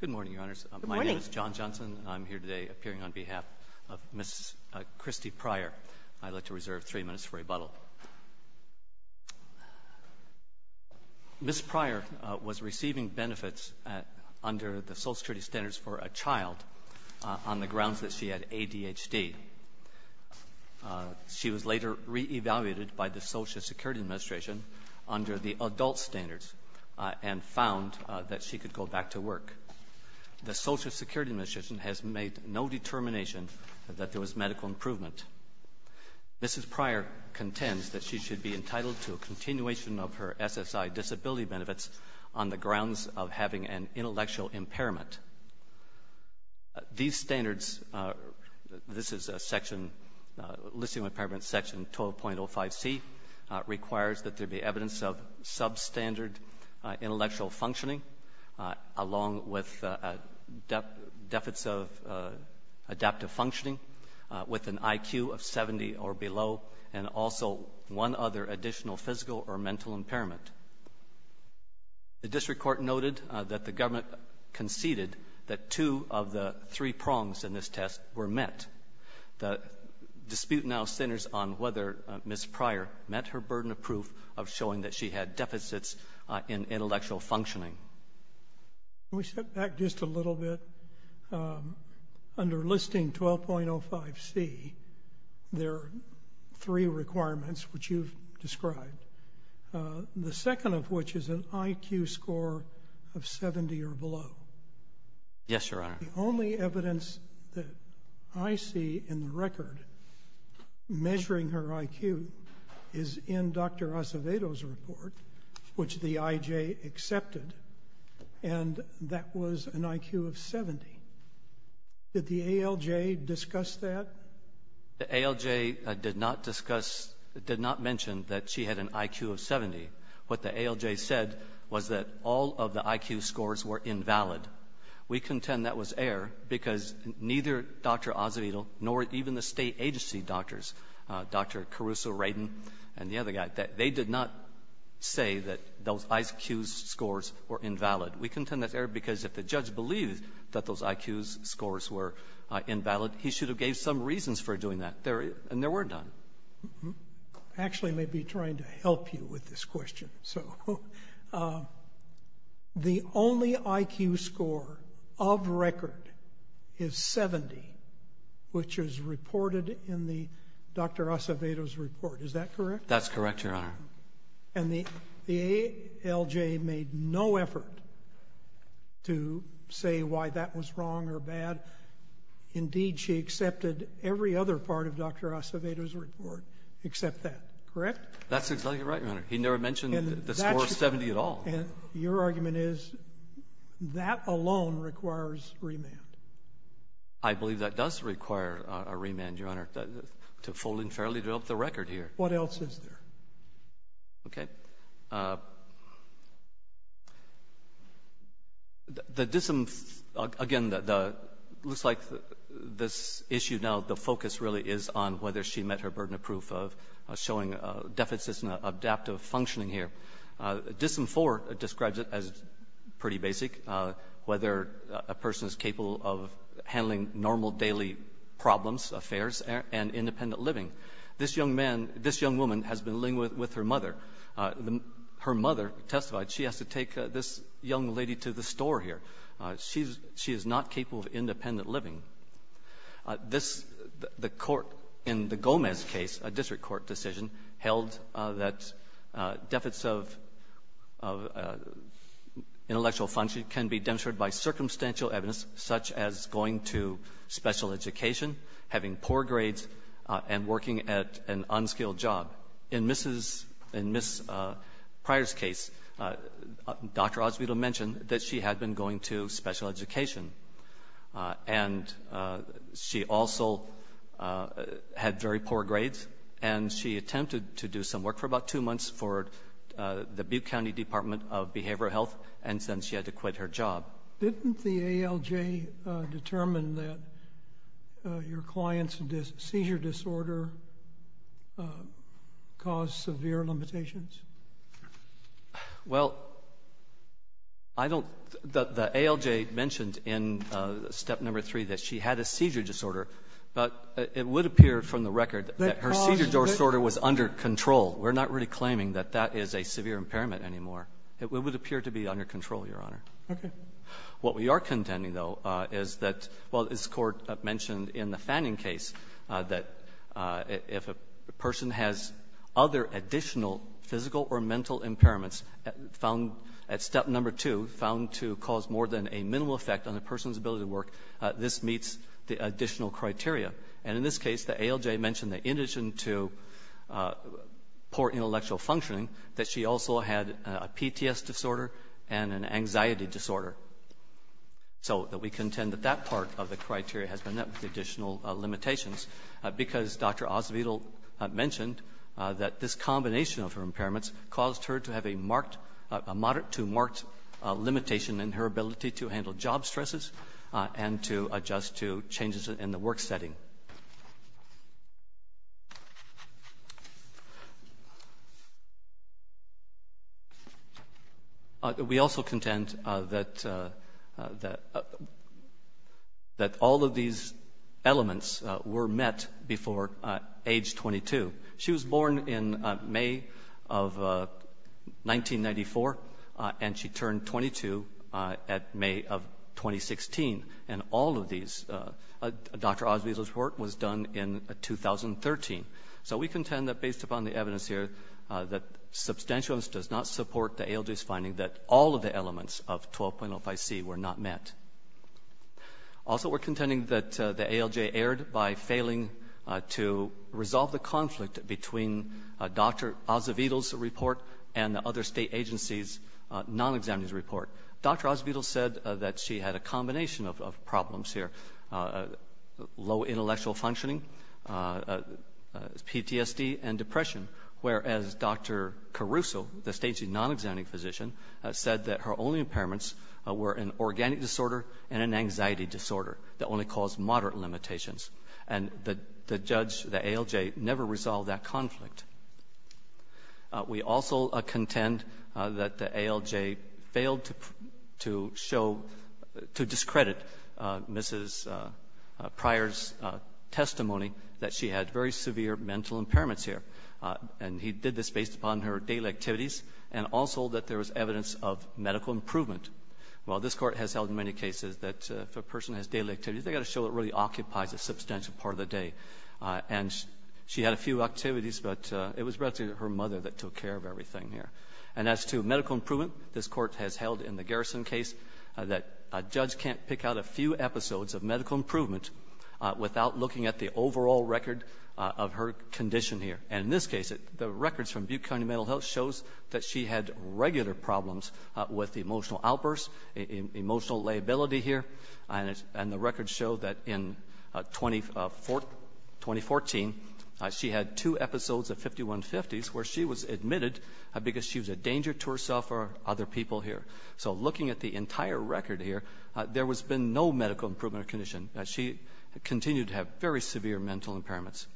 Good morning, Your Honors. My name is John Johnson. I'm here today appearing on behalf of Ms. Christy Pryor. I'd like to reserve three minutes for rebuttal. Ms. Pryor was receiving benefits under the Social Security Standards for a Child on the grounds that she had ADHD. She was later re-evaluated by the Social Security Administration under the adult standards and found that she could go back to work. The Social Security Administration has made no determination that there was medical improvement. Mrs. Pryor contends that she should be entitled to a continuation of her SSI disability benefits on the grounds of having an intellectual impairment. These standards, this is a section, Listing the evidence of substandard intellectual functioning along with a deficit of adaptive functioning with an IQ of 70 or below and also one other additional physical or mental impairment. The District Court noted that the government conceded that two of the three prongs in this showing that she had deficits in intellectual functioning. Can we step back just a little bit? Under Listing 12.05c, there are three requirements which you've described. The second of which is an IQ score of 70 or below. Yes, Your Honor. The only evidence that I see in the record measuring her IQ is in Dr. Acevedo's report, which the IJ accepted, and that was an IQ of 70. Did the ALJ discuss that? The ALJ did not discuss, did not mention that she had an IQ of 70. What the ALJ said was that all of the IQ scores were invalid. We contend that was error because neither Dr. Acevedo nor even the state agency doctors, Dr. Caruso, Radin, and the other guy, they did not say that those IQ scores were invalid. We contend that's error because if the judge believed that those IQ scores were invalid, he should have gave some reasons for doing that and there were none. I actually may be trying to help you with this question. The only IQ score of record is 70, which is reported in Dr. Acevedo's report. Is that correct? That's correct, Your Honor. The ALJ made no effort to say why that was wrong or bad. Indeed, she accepted every other part of Dr. Acevedo's report except that, correct? That's exactly right, Your Honor. He never mentioned the score of 70 at all. Your argument is that alone requires remand. I believe that does require a remand, Your Honor, to fully and fairly develop the record here. What else is there? Okay. The DISM, again, looks like this issue now, the focus really is on whether she met her burden of proof of showing deficits in adaptive functioning here. DISM-IV describes it as pretty basic, whether a person is capable of handling normal daily problems, affairs, and independent living. This young man, this young woman has been living with her mother. Her mother testified she has to take this young lady to the store here. She is not capable of independent living. This the court in the Gomez case, a district court decision, held that deficits of intellectual function can be demonstrated by circumstantial evidence such as going to special education, having poor grades, and working at an unskilled job. In Ms. Pryor's case, Dr. Azevedo mentioned that she had been going to special education, and she also had very poor grades, and she attempted to do some work for about two months for the Butte County Department of Behavioral Health, and then she had to quit her job. Didn't the ALJ determine that your client's seizure disorder caused severe limitations? Well, the ALJ mentioned in step number three that she had a seizure disorder, but it would appear from the record that her seizure disorder was under control. We're not really claiming that that is a severe impairment anymore. It would appear to be under control, Your Honor. What we are contending, though, is that while this Court mentioned in the Fanning case that if a person has other additional physical or mental impairments found at step number two, found to cause more than a minimal effect on a person's ability to work, this meets the additional criteria. And in this case, the ALJ mentioned that in addition to poor intellectual functioning, that she also had a PTSD disorder and an anxiety disorder. So we contend that that part of the criteria has been met with additional limitations, because Dr. Azevedo mentioned that this combination of her impairments caused her to have a marked — a moderate to marked limitation in her ability to handle job stresses and to adjust to changes in the work setting. We also contend that all of these elements were met before age 22. She was born in May of 1994, and she turned 22 at May of 2016. And all of these elements were met before Dr. Azevedo's report was done in 2013. So we contend that based upon the evidence here, that substantial evidence does not support the ALJ's finding that all of the elements of 12.05C were not met. Also we're contending that the ALJ erred by failing to resolve the conflict between Dr. Azevedo's report and the other state agencies' non-examiner's report. Dr. Azevedo said that she had a combination of problems here, low intellectual functioning, PTSD, and depression, whereas Dr. Caruso, the state's non-examining physician, said that her only impairments were an organic disorder and an anxiety disorder that only caused moderate limitations. And the judge, the ALJ, never resolved that conflict. We also contend that the ALJ failed to show, to discredit Mrs. Pryor's testimony that she had very severe mental impairments here. And he did this based upon her daily activities and also that there was evidence of medical improvement. While this Court has held in many cases that if a person has daily activities, they've got to show what really occupies a substantial part of the day. And she had a few activities, but it was relatively her mother that took care of everything here. And as to medical improvement, this Court has held in the Garrison case that a judge can't pick out a few episodes of medical improvement without looking at the overall record of her condition here. And in this case, the records from Butte County Mental Health shows that she had regular problems with emotional outbursts, emotional liability here, and the records show that in 2014, she had two episodes of 5150s where she was admitted because she was a danger to herself or other people here. So looking at the entire record here, there has been no medical improvement of her condition. She continued to have very severe mental impairments.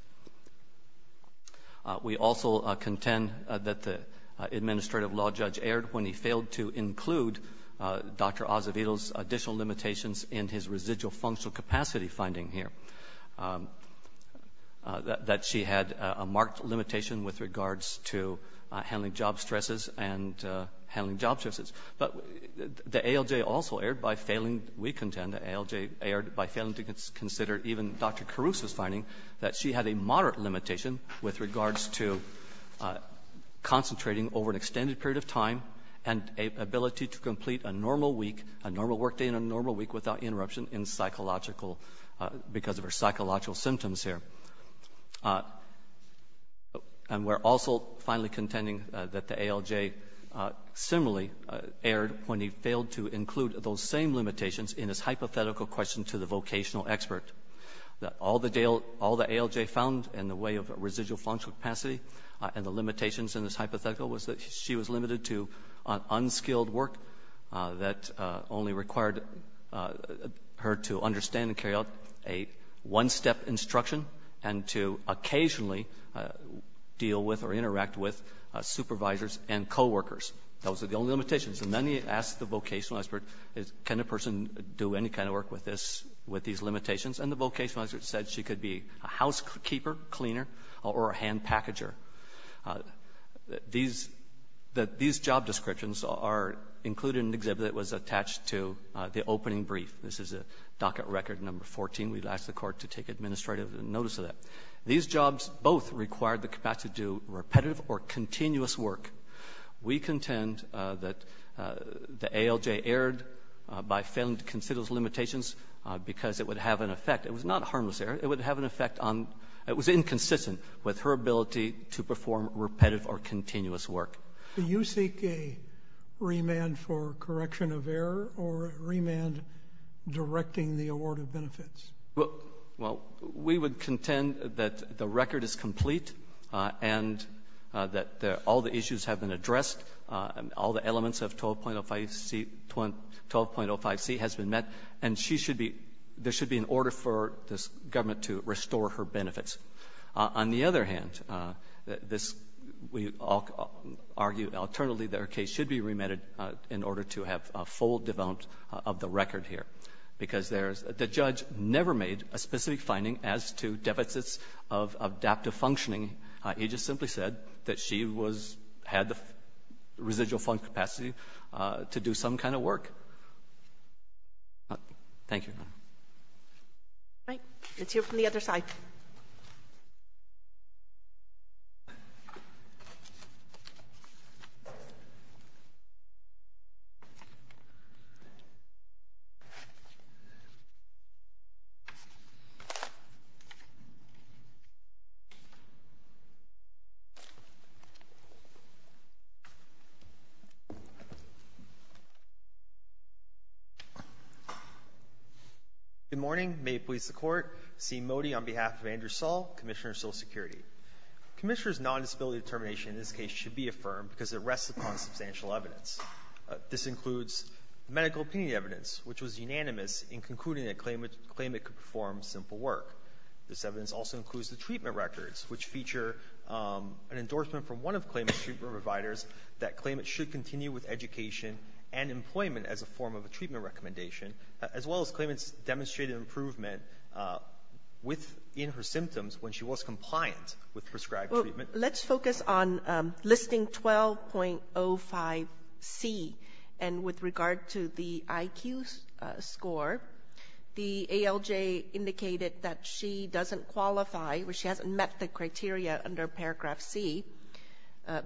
We also contend that the administrative law judge erred when he failed to include Dr. Caruso's residual functional capacity finding here, that she had a marked limitation with regards to handling job stresses and handling job stresses. But the ALJ also erred by failing to consider even Dr. Caruso's finding that she had a moderate limitation with regards to concentrating over an extended period of time and ability to complete a normal week, a normal work day, and a normal week without interruption because of her psychological symptoms here. And we're also finally contending that the ALJ similarly erred when he failed to include those same limitations in his hypothetical question to the vocational expert, that all the ALJ found in the way of residual functional capacity and the limitations in his hypothetical was that she was limited to unskilled work that only required her to understand and carry out a one-step instruction and to occasionally deal with or interact with supervisors and co-workers. Those are the only limitations. And then he asked the vocational expert, can a person do any kind of work with these limitations? And the vocational expert said she could be a housekeeper, cleaner, or a hand packager. These job descriptions are included in an exhibit that was attached to the opening brief. This is a docket record number 14. We've asked the Court to take administrative notice of that. These jobs both required the capacity to do repetitive or continuous work. We contend that the ALJ erred by failing to consider those limitations because it would have an effect. It was not a harmless error. It would have an effect on, it was inconsistent with her ability to perform repetitive or continuous work. Do you seek a remand for correction of error or a remand directing the award of benefits? Well, we would contend that the record is complete and that all the issues have been addressed and all the elements of 12.05C has been met. And she should be, there should be an order for this government to restore her benefits. On the other hand, we argue alternately that her case should be remanded in order to have a full development of the record here, because there is, the judge never made a specific finding as to deficits of adaptive functioning. He just simply said that she was, had the residual capacity to do some kind of work. Thank you. All right. Let's hear from the other side. Good morning. May it please the Court. C. Modi on behalf of Andrew Sull, Commissioner of Social Security. Commissioner's non-disability determination in this case should be affirmed because it rests upon substantial evidence. This includes medical opinion evidence, which was unanimous in concluding that claimant could perform simple work. This evidence also includes the treatment records, which feature an endorsement from one of claimant's treatment providers that claimant should continue with education and employment as a form of a treatment recommendation, as well as claimant's demonstrated improvement within her symptoms when she was compliant with prescribed treatment. Let's focus on listing 12.05C. And with regard to the IQ score, the ALJ indicated that she doesn't qualify, or she hasn't met the criteria under paragraph C,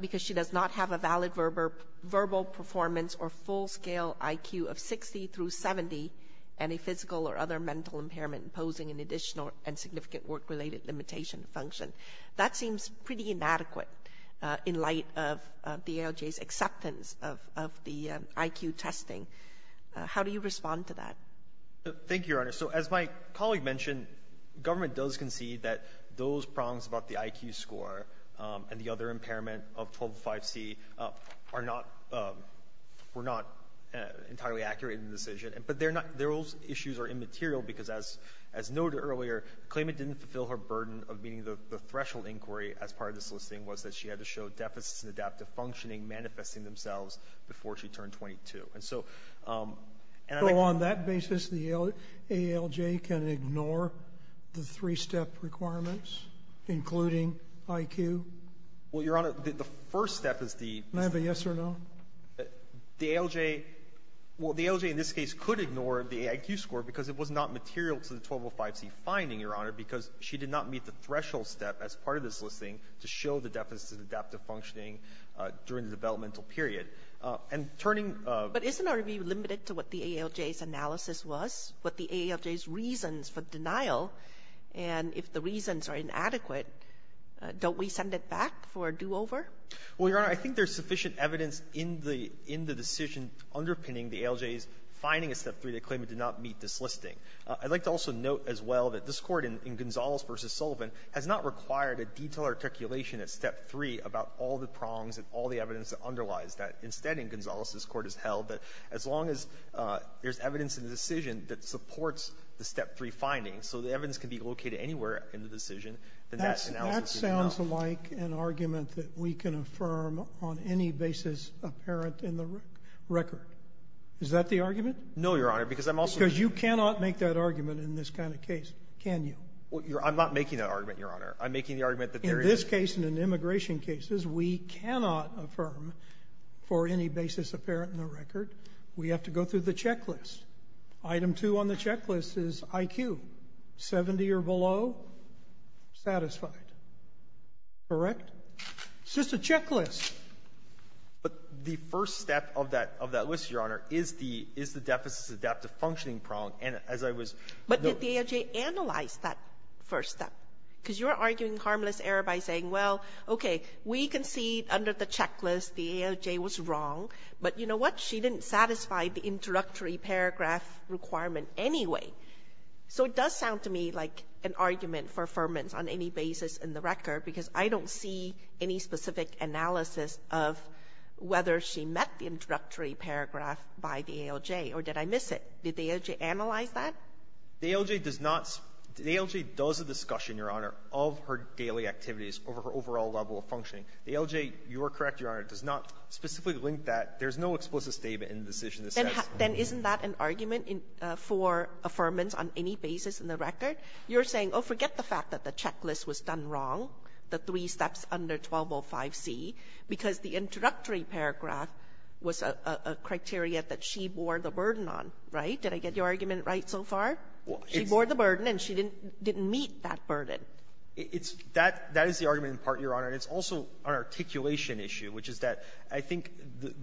because she does not have a valid verbal performance or full-scale IQ of 60 through 70 and a physical or other mental impairment imposing an additional and significant work-related limitation function. That seems pretty inadequate in light of the ALJ's acceptance of the IQ testing. How do you respond to that? Thank you, Your Honor. So as my colleague mentioned, government does concede that those prongs about the IQ score and the other impairment of 12.05C were not entirely accurate in the decision. But those issues are immaterial, because as noted earlier, claimant didn't fulfill her burden of meeting the threshold inquiry as part of the soliciting was that she had to show deficits in adaptive functioning manifesting themselves before she turned 22. So on that basis, the ALJ can ignore the three-step requirements, including IQ? Well, Your Honor, the first step is the... Can I have a yes or no? The ALJ, well, the ALJ in this case could ignore the IQ score, because it was not material to the 12.05C finding, Your Honor, because she did not meet the threshold step as part of this listing to show the deficits in adaptive functioning during the developmental period. But isn't our review limited to what the ALJ's analysis was, what the ALJ's reasons for denial? And if the reasons are inadequate, don't we send it back for a do-over? Well, Your Honor, I think there's sufficient evidence in the decision underpinning the ALJ's finding a step three that claimant did not meet this listing. I'd like to also note as well that this court in Gonzales v. Sullivan has not required a detailed articulation at step three about all the prongs and all the evidence that underlies that. Instead in Gonzales, this court has held that as long as there's evidence in the decision that supports the step three findings, so the evidence can be located anywhere in the decision, then that analysis is allowed. That sounds like an argument that we can affirm on any basis apparent in the record. Is that the argument? No, Your Honor, because I'm also... Because you cannot make that argument in this kind of case, can you? I'm not making that argument, Your Honor. I'm making the argument that there is... In this case and in immigration cases, we cannot affirm for any basis apparent in the record. We have to go through the checklist. Item two on the checklist is IQ. Seventy or below, satisfied. Correct? It's just a checklist. But the first step of that list, Your Honor, is the deficit-adaptive functioning prong. And as I was... But did the ALJ analyze that first step? Because you're arguing harmless error by saying, well, okay, we can see under the checklist the ALJ was wrong, but you know what? She didn't satisfy the introductory paragraph requirement anyway. So it does sound to me like an argument for affirmance on any basis in the record because I don't see any specific analysis of whether she met the introductory paragraph by the ALJ or did I miss it? Did the ALJ analyze that? The ALJ does not. The ALJ does a discussion, Your Honor, of her daily activities over her overall level of functioning. The ALJ, you are correct, Your Honor, does not specifically link that. There's no explicit statement in the decision that says... Then isn't that an argument for affirmance on any basis in the record? You're saying, oh, forget the fact that the checklist was done wrong, the three steps under 1205C, because the introductory paragraph was a criteria that she bore the burden on, right? Did I get your argument right so far? She bore the burden and she didn't meet that burden. That is the argument in part, Your Honor, and it's also an articulation issue, which is that I think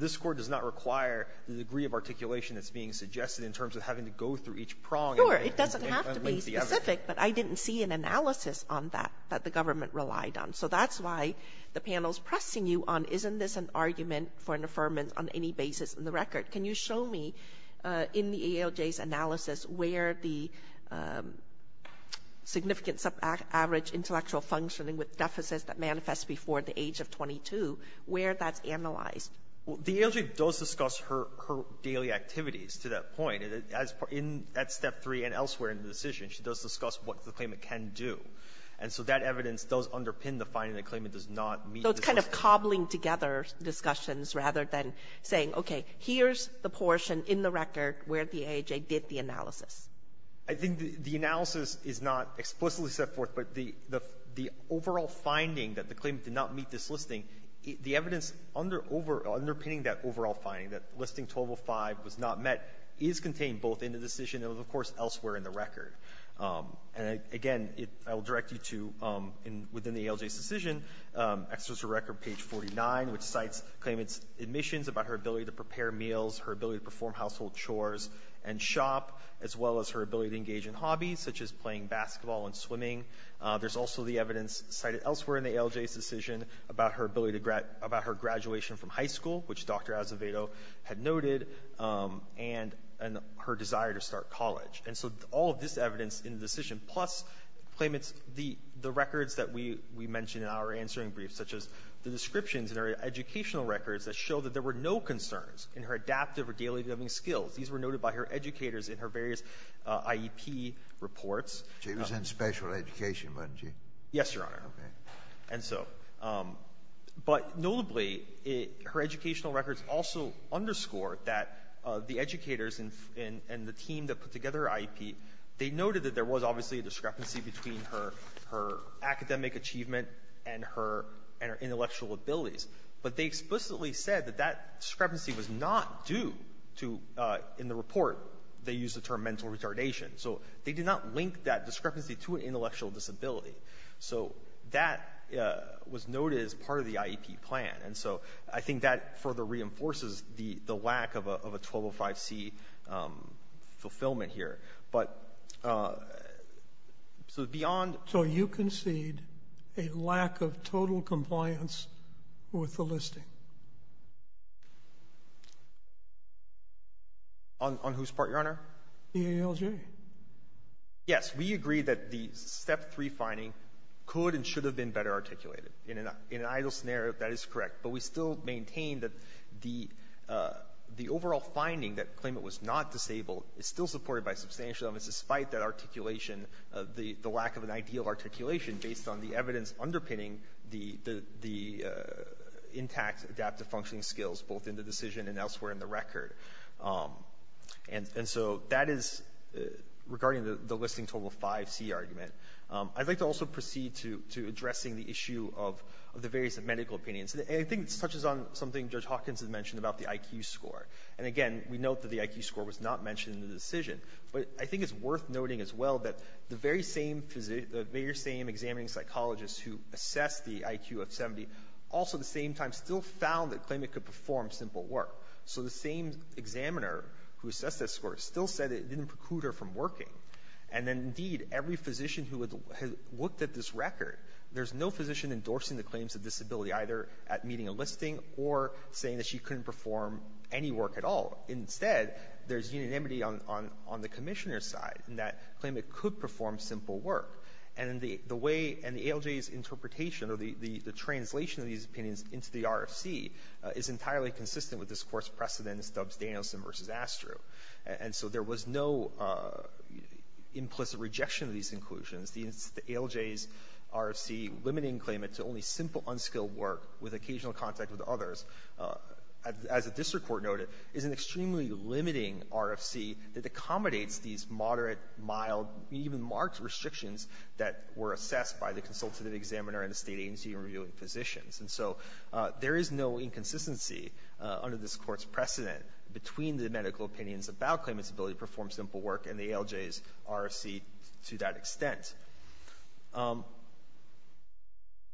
this Court does not require the degree of articulation that's being suggested in terms of having to go through each prong and link the other. Sure. It doesn't have to be specific, but I didn't see an analysis on that that the government relied on. So that's why the panel is pressing you on isn't this an argument for an affirmance on any basis in the record? Can you show me in the ALJ's analysis where the significance of average intellectual functioning with deficits that manifest before the age of 22, where that's analyzed? The ALJ does discuss her daily activities to that point. In that step three and elsewhere in the decision, she does discuss what the claimant can do. And so that evidence does underpin the finding that the claimant does not meet... So it's kind of cobbling together discussions rather than saying, okay, here's the portion in the record where the ALJ did the analysis. I think the analysis is not explicitly set forth, but the overall finding that the claimant did not meet this listing, the evidence underpinning that overall finding that listing 1205 was not met is contained both in the decision and, of course, elsewhere in the record. And again, I will direct you to within the ALJ's decision, extra to record page 49, which cites claimant's admissions about her ability to prepare meals, her ability to perform household chores and shop, as well as her ability to engage in hobbies, such as playing basketball and swimming. There's also the evidence cited elsewhere in the ALJ's decision about her ability to... about her graduation from high school, which Dr. Azevedo had noted, and her desire to start college. And so all of this evidence in the decision, plus claimants, the records that we mentioned in our answering brief, such as the descriptions in her educational records that show that there were no concerns in her adaptive or daily living skills. These were noted by her educators in her various IEP reports. JUSTICE SCALIA. She was in special education, wasn't she? MR. ZUCKERBERG. Yes, Your Honor. JUSTICE SCALIA. Okay. MR. ZUCKERBERG. And so. But notably, her educational records also underscore that the educators and the team that put together her IEP, they noted that there was obviously a discrepancy between her academic achievement and her intellectual abilities. But they explicitly said that that discrepancy was not due to, in the report, they used the term mental retardation. So they did not link that discrepancy to an intellectual disability. So that was noted as part of the IEP plan. And so I think that further reinforces the lack of a 1205C fulfillment here. But so beyond. JUSTICE SCALIA. So you concede a lack of total compliance with the listing? MR. ZUCKERBERG. On whose part, Your Honor? JUSTICE SCALIA. The ALJ. MR. ZUCKERBERG. Yes. We agree that the Step 3 finding could and should have been better articulated. In an ideal scenario, that is correct. But we still maintain that the overall finding that the claimant was not disabled is still supported by substantial evidence despite that articulation, the lack of an ideal articulation based on the evidence underpinning the intact adaptive functioning skills both in the decision and elsewhere in the record. And so that is regarding the listing total 5C argument. I'd like to also proceed to addressing the issue of the various medical opinions. And I think this touches on something Judge Hawkins has mentioned about the IQ score. And, again, we note that the IQ score was not mentioned in the decision. But I think it's worth noting as well that the very same examining psychologist who assessed the IQ of 70 also at the same time still found the claimant could perform simple work. So the same examiner who assessed that score still said it didn't preclude her from working. And then, indeed, every physician who had looked at this record, there's no physician endorsing the claims of disability either at meeting a listing or saying that she couldn't perform any work at all. Instead, there's unanimity on the commissioner's side in that claimant could perform simple work. And the way and the ALJ's interpretation or the translation of these opinions into the RFC is entirely consistent with this court's precedence, Dubbs-Danielson v. Astro. And so there was no implicit rejection of these inclusions. The ALJ's RFC limiting claimant to only simple, unskilled work with occasional contact with others, as the district court noted, is an extremely limiting RFC that accommodates these moderate, mild, even marked restrictions that were assessed by the consultative examiner and the state agency reviewing physicians. And so there is no inconsistency under this court's precedent between the medical opinions about claimants' ability to perform simple work and the ALJ's RFC to that extent.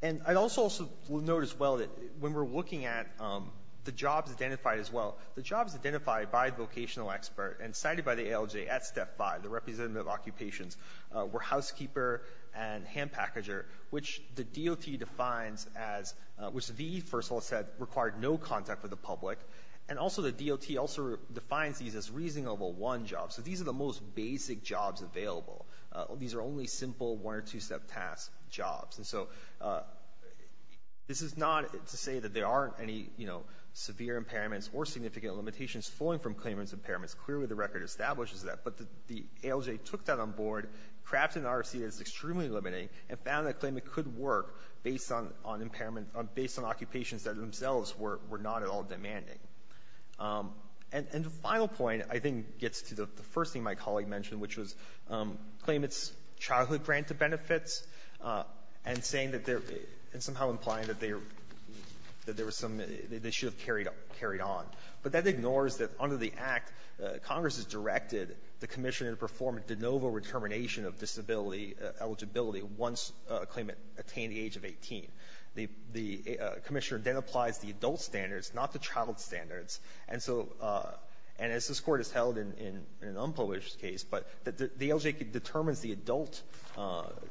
And I also will note as well that when we're looking at the jobs identified as well, the jobs identified by the vocational expert and cited by the ALJ at Step 5, the representative occupations, were housekeeper and hand packager, which the DOT defines as, which the first law said required no contact with the public. And also the DOT also defines these as reasonable one job. So these are the most basic jobs available. These are only simple one- or two-step task jobs. And so this is not to say that there aren't any, you know, severe impairments or significant limitations flowing from claimant's impairments. Clearly the record establishes that. But the ALJ took that on board, crafted an RFC that is extremely limiting, and found that a claimant could work based on impairment — based on occupations that themselves were not at all demanding. And the final point, I think, gets to the first thing my colleague mentioned, which was claimants' childhood granted benefits and saying that they're — and somehow implying that they were — that there was some — they should have carried on. But that ignores that under the Act, Congress has directed the commissioner to perform a de novo determination of disability eligibility once a claimant attained the age of 18. The commissioner then applies the adult standards, not the child standards. And so — and as this Court has held in an unpublished case, but the ALJ determines the adult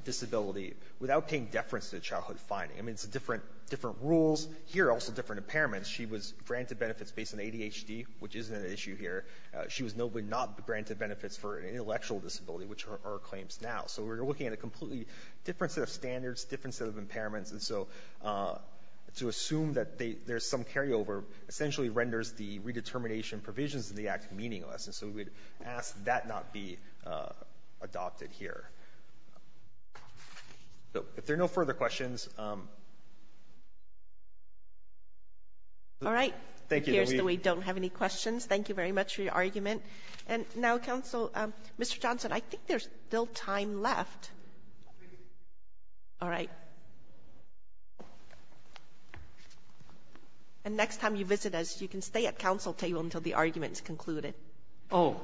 disability without paying deference to the childhood finding. I mean, it's a different — different rules. Here, also different impairments. She was granted benefits based on ADHD, which isn't an issue here. She was notably not granted benefits for an intellectual disability, which are our claims now. So we're looking at a completely different set of standards, different set of impairments. And so to assume that there's some carryover essentially renders the redetermination provisions in the Act meaningless. And so we would ask that not be adopted here. So if there are no further questions — All right. Thank you. It appears that we don't have any questions. Thank you very much for your argument. And now, Counsel, Mr. Johnson, I think there's still time left. All right. And next time you visit us, you can stay at counsel table until the argument is concluded. Oh,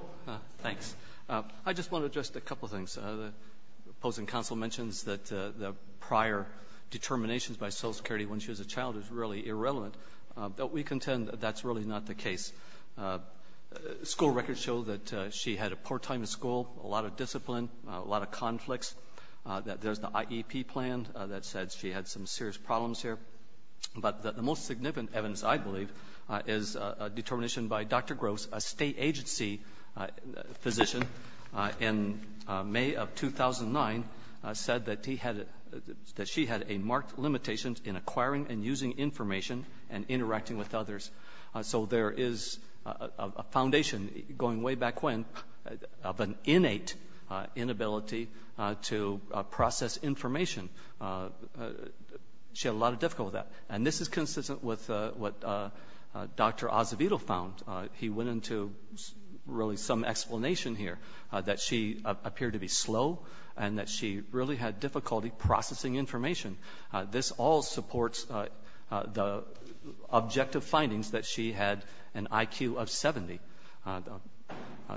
thanks. I just want to address a couple of things. The opposing counsel mentions that the prior determinations by Social Security when she was a child is really irrelevant. But we contend that that's really not the case. School records show that she had a poor time in school, a lot of discipline, a lot of conflicts, that there's the IEP plan that said she had some serious problems here. But the most significant evidence, I believe, is a determination by Dr. Groves, a state agency physician in May of 2009 said that he had — that she had a marked limitation in acquiring and using information and interacting with others. So there is a foundation going way back when of an innate inability to process information. She had a lot of difficulty with that. And this is consistent with what Dr. Acevedo found. He went into really some explanation here that she appeared to be slow and that she really had difficulty processing information. This all supports the objective findings that she had an IQ of 70.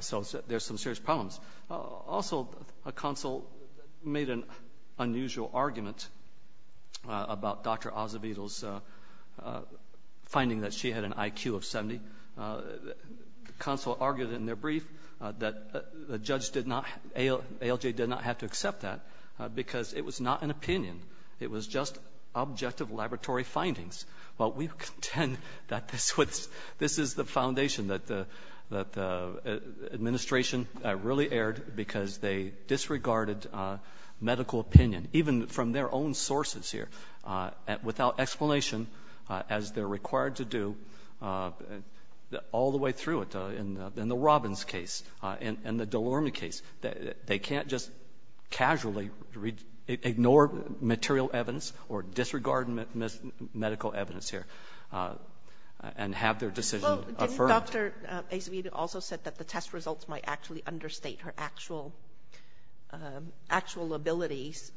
So there's some serious problems. Also, a consul made an unusual argument about Dr. Acevedo's finding that she had an IQ of 70. The consul argued in their brief that the judge did not — ALJ did not have to accept that because it was not an opinion. It was just objective laboratory findings. Well, we contend that this was — this is the foundation that the administration really erred because they disregarded medical opinion, even from their own sources here, without explanation, as they're required to do all the way through it. In the Robbins case and the DeLorme case, they can't just casually ignore material evidence or disregard medical evidence here and have their decision affirmed. Didn't Dr. Acevedo also say that the test results might actually understate her actual abilities?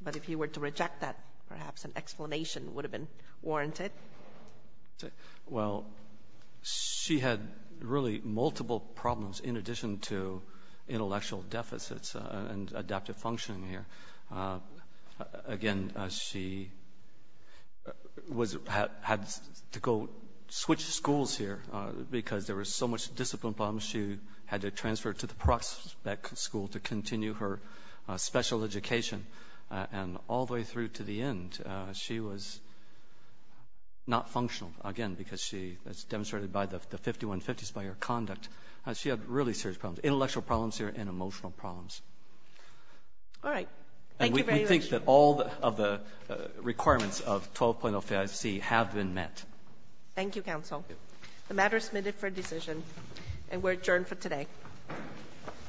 But if you were to reject that, perhaps an explanation would have been warranted. Well, she had really multiple problems in addition to intellectual deficits and adaptive functioning here. Again, she had to go switch schools here because there was so much discipline problems. She had to transfer to the Proxbeck School to continue her special education. And all the way through to the end, she was not functional, again, because she was demonstrated by the 5150s by her conduct. She had really serious problems, intellectual problems here and emotional problems. All right. Thank you very much. And we think that all of the requirements of 12.0 FAIC have been met. Thank you, counsel. The matter is submitted for decision, and we're adjourned for today. All rise.